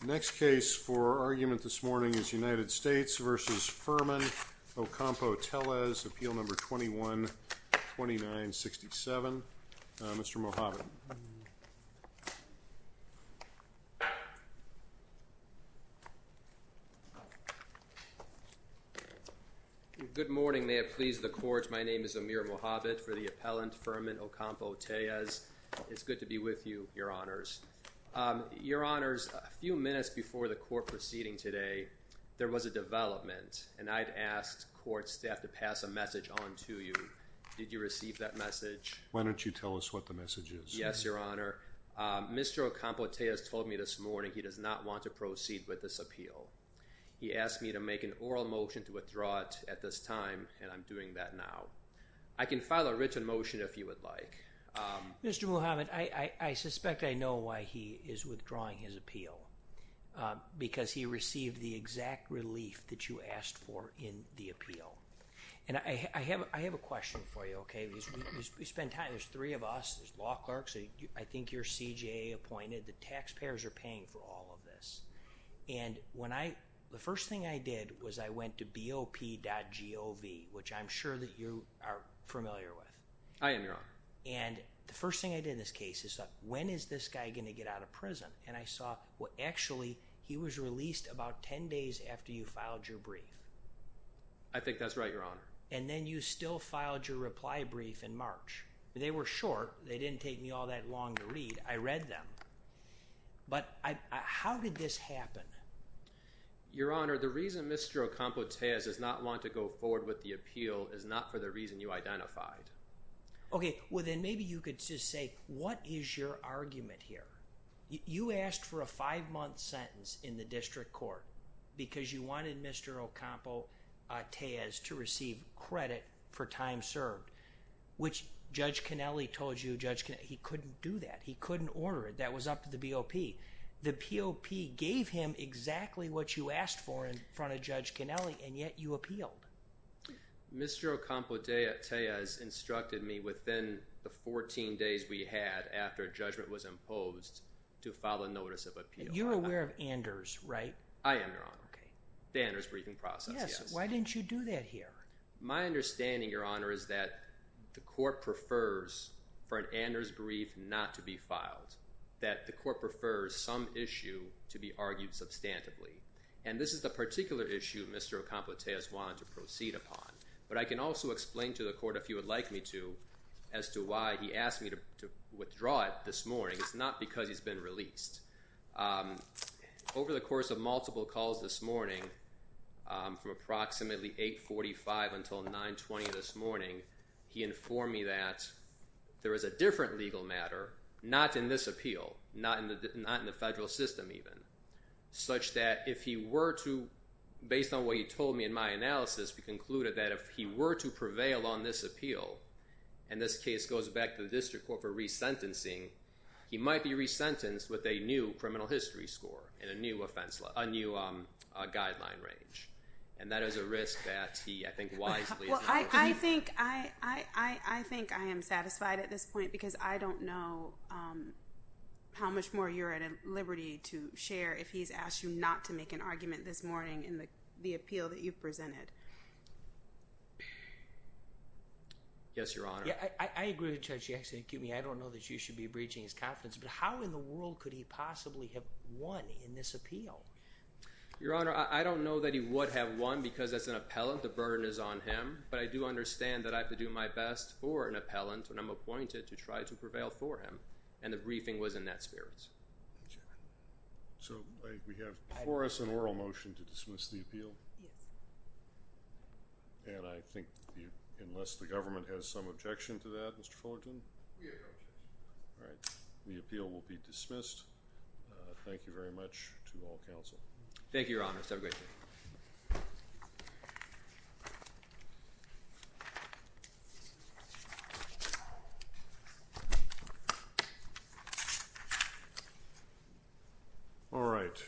The next case for argument this morning is United States v. Fermin Ocampo-Tellez, Appeal No. 21-2967. Mr. Mohabit. Good morning. May it please the Court, my name is Amir Mohabit for the appellant Fermin Ocampo-Tellez. It's good to be with you, your honors. Your honors, a few minutes before the court proceeding today, there was a development, and I'd asked court staff to pass a message on to you. Did you receive that message? Why don't you tell us what the message is? Yes, your honor. Mr. Ocampo-Tellez told me this morning he does not want to proceed with this appeal. He asked me to make an oral motion to withdraw it at this time, and I'm doing that now. I can file a written motion if you would like. Mr. Mohabit, I suspect I know why he is withdrawing his appeal. Because he received the exact relief that you asked for in the appeal. And I have a question for you, okay, because we spend time, there's three of us, there's law clerks, I think you're CJA appointed, the taxpayers are paying for all of this. And when I, the first thing I did was I went to BOP.gov, which I'm sure that you are familiar with. I am, your honor. And the first thing I did in this case is, when is this guy going to get out of prison? And I saw, well actually, he was released about 10 days after you filed your brief. I think that's right, your honor. And then you still filed your reply brief in March. They were short, they didn't take me all that long to read, I read them. But how did this happen? Your honor, the reason Mr. Ocampo-Tayez does not want to go forward with the appeal is not for the reason you identified. Okay, well then maybe you could just say, what is your argument here? You asked for a five-month sentence in the district court because you wanted Mr. Ocampo-Tayez to receive credit for time served. Which Judge Cannelli told you, he couldn't do that. He couldn't order it. That was up to the BOP. The POP gave him exactly what you asked for in front of Judge Cannelli and yet you appealed. Mr. Ocampo-Tayez instructed me within the 14 days we had after judgment was imposed to file a notice of appeal. You're aware of Anders, right? I am, your honor. Okay. The Anders briefing process, yes. Yes, why didn't you do that here? My understanding, your honor, is that the court prefers for an Anders brief not to be filed. That the court prefers some issue to be argued substantively. And this is the particular issue Mr. Ocampo-Tayez wanted to proceed upon. But I can also explain to the court, if you would like me to, as to why he asked me to withdraw it this morning. It's not because he's been released. Over the course of multiple calls this morning, from approximately 845 until 920 this morning, he informed me that there is a different legal matter, not in this appeal, not in the federal system even. Such that if he were to, based on what he told me in my analysis, we concluded that if he were to prevail on this appeal, and this case goes back to the district court for resentencing, he might be resentenced with a new criminal history score. And a new offense, a new guideline range. And that is a risk that he, I think, wisely. Well, I think I am satisfied at this point because I don't know how much more you're at liberty to share if he's asked you not to make an argument this morning in the appeal that you presented. Yes, Your Honor. I agree with Judge Jackson. Excuse me, I don't know that you should be breaching his confidence. But how in the world could he possibly have won in this appeal? Your Honor, I don't know that he would have won because as an appellant, the burden is on him. But I do understand that I have to do my best for an appellant when I'm appointed to try to prevail for him. And the briefing was in that spirit. So we have before us an oral motion to dismiss the appeal. Yes. And I think unless the government has some objection to that, Mr. Fullerton. We have no objection. All right. The appeal will be dismissed. Thank you very much to all counsel. Thank you, Your Honor. Have a great day. All right.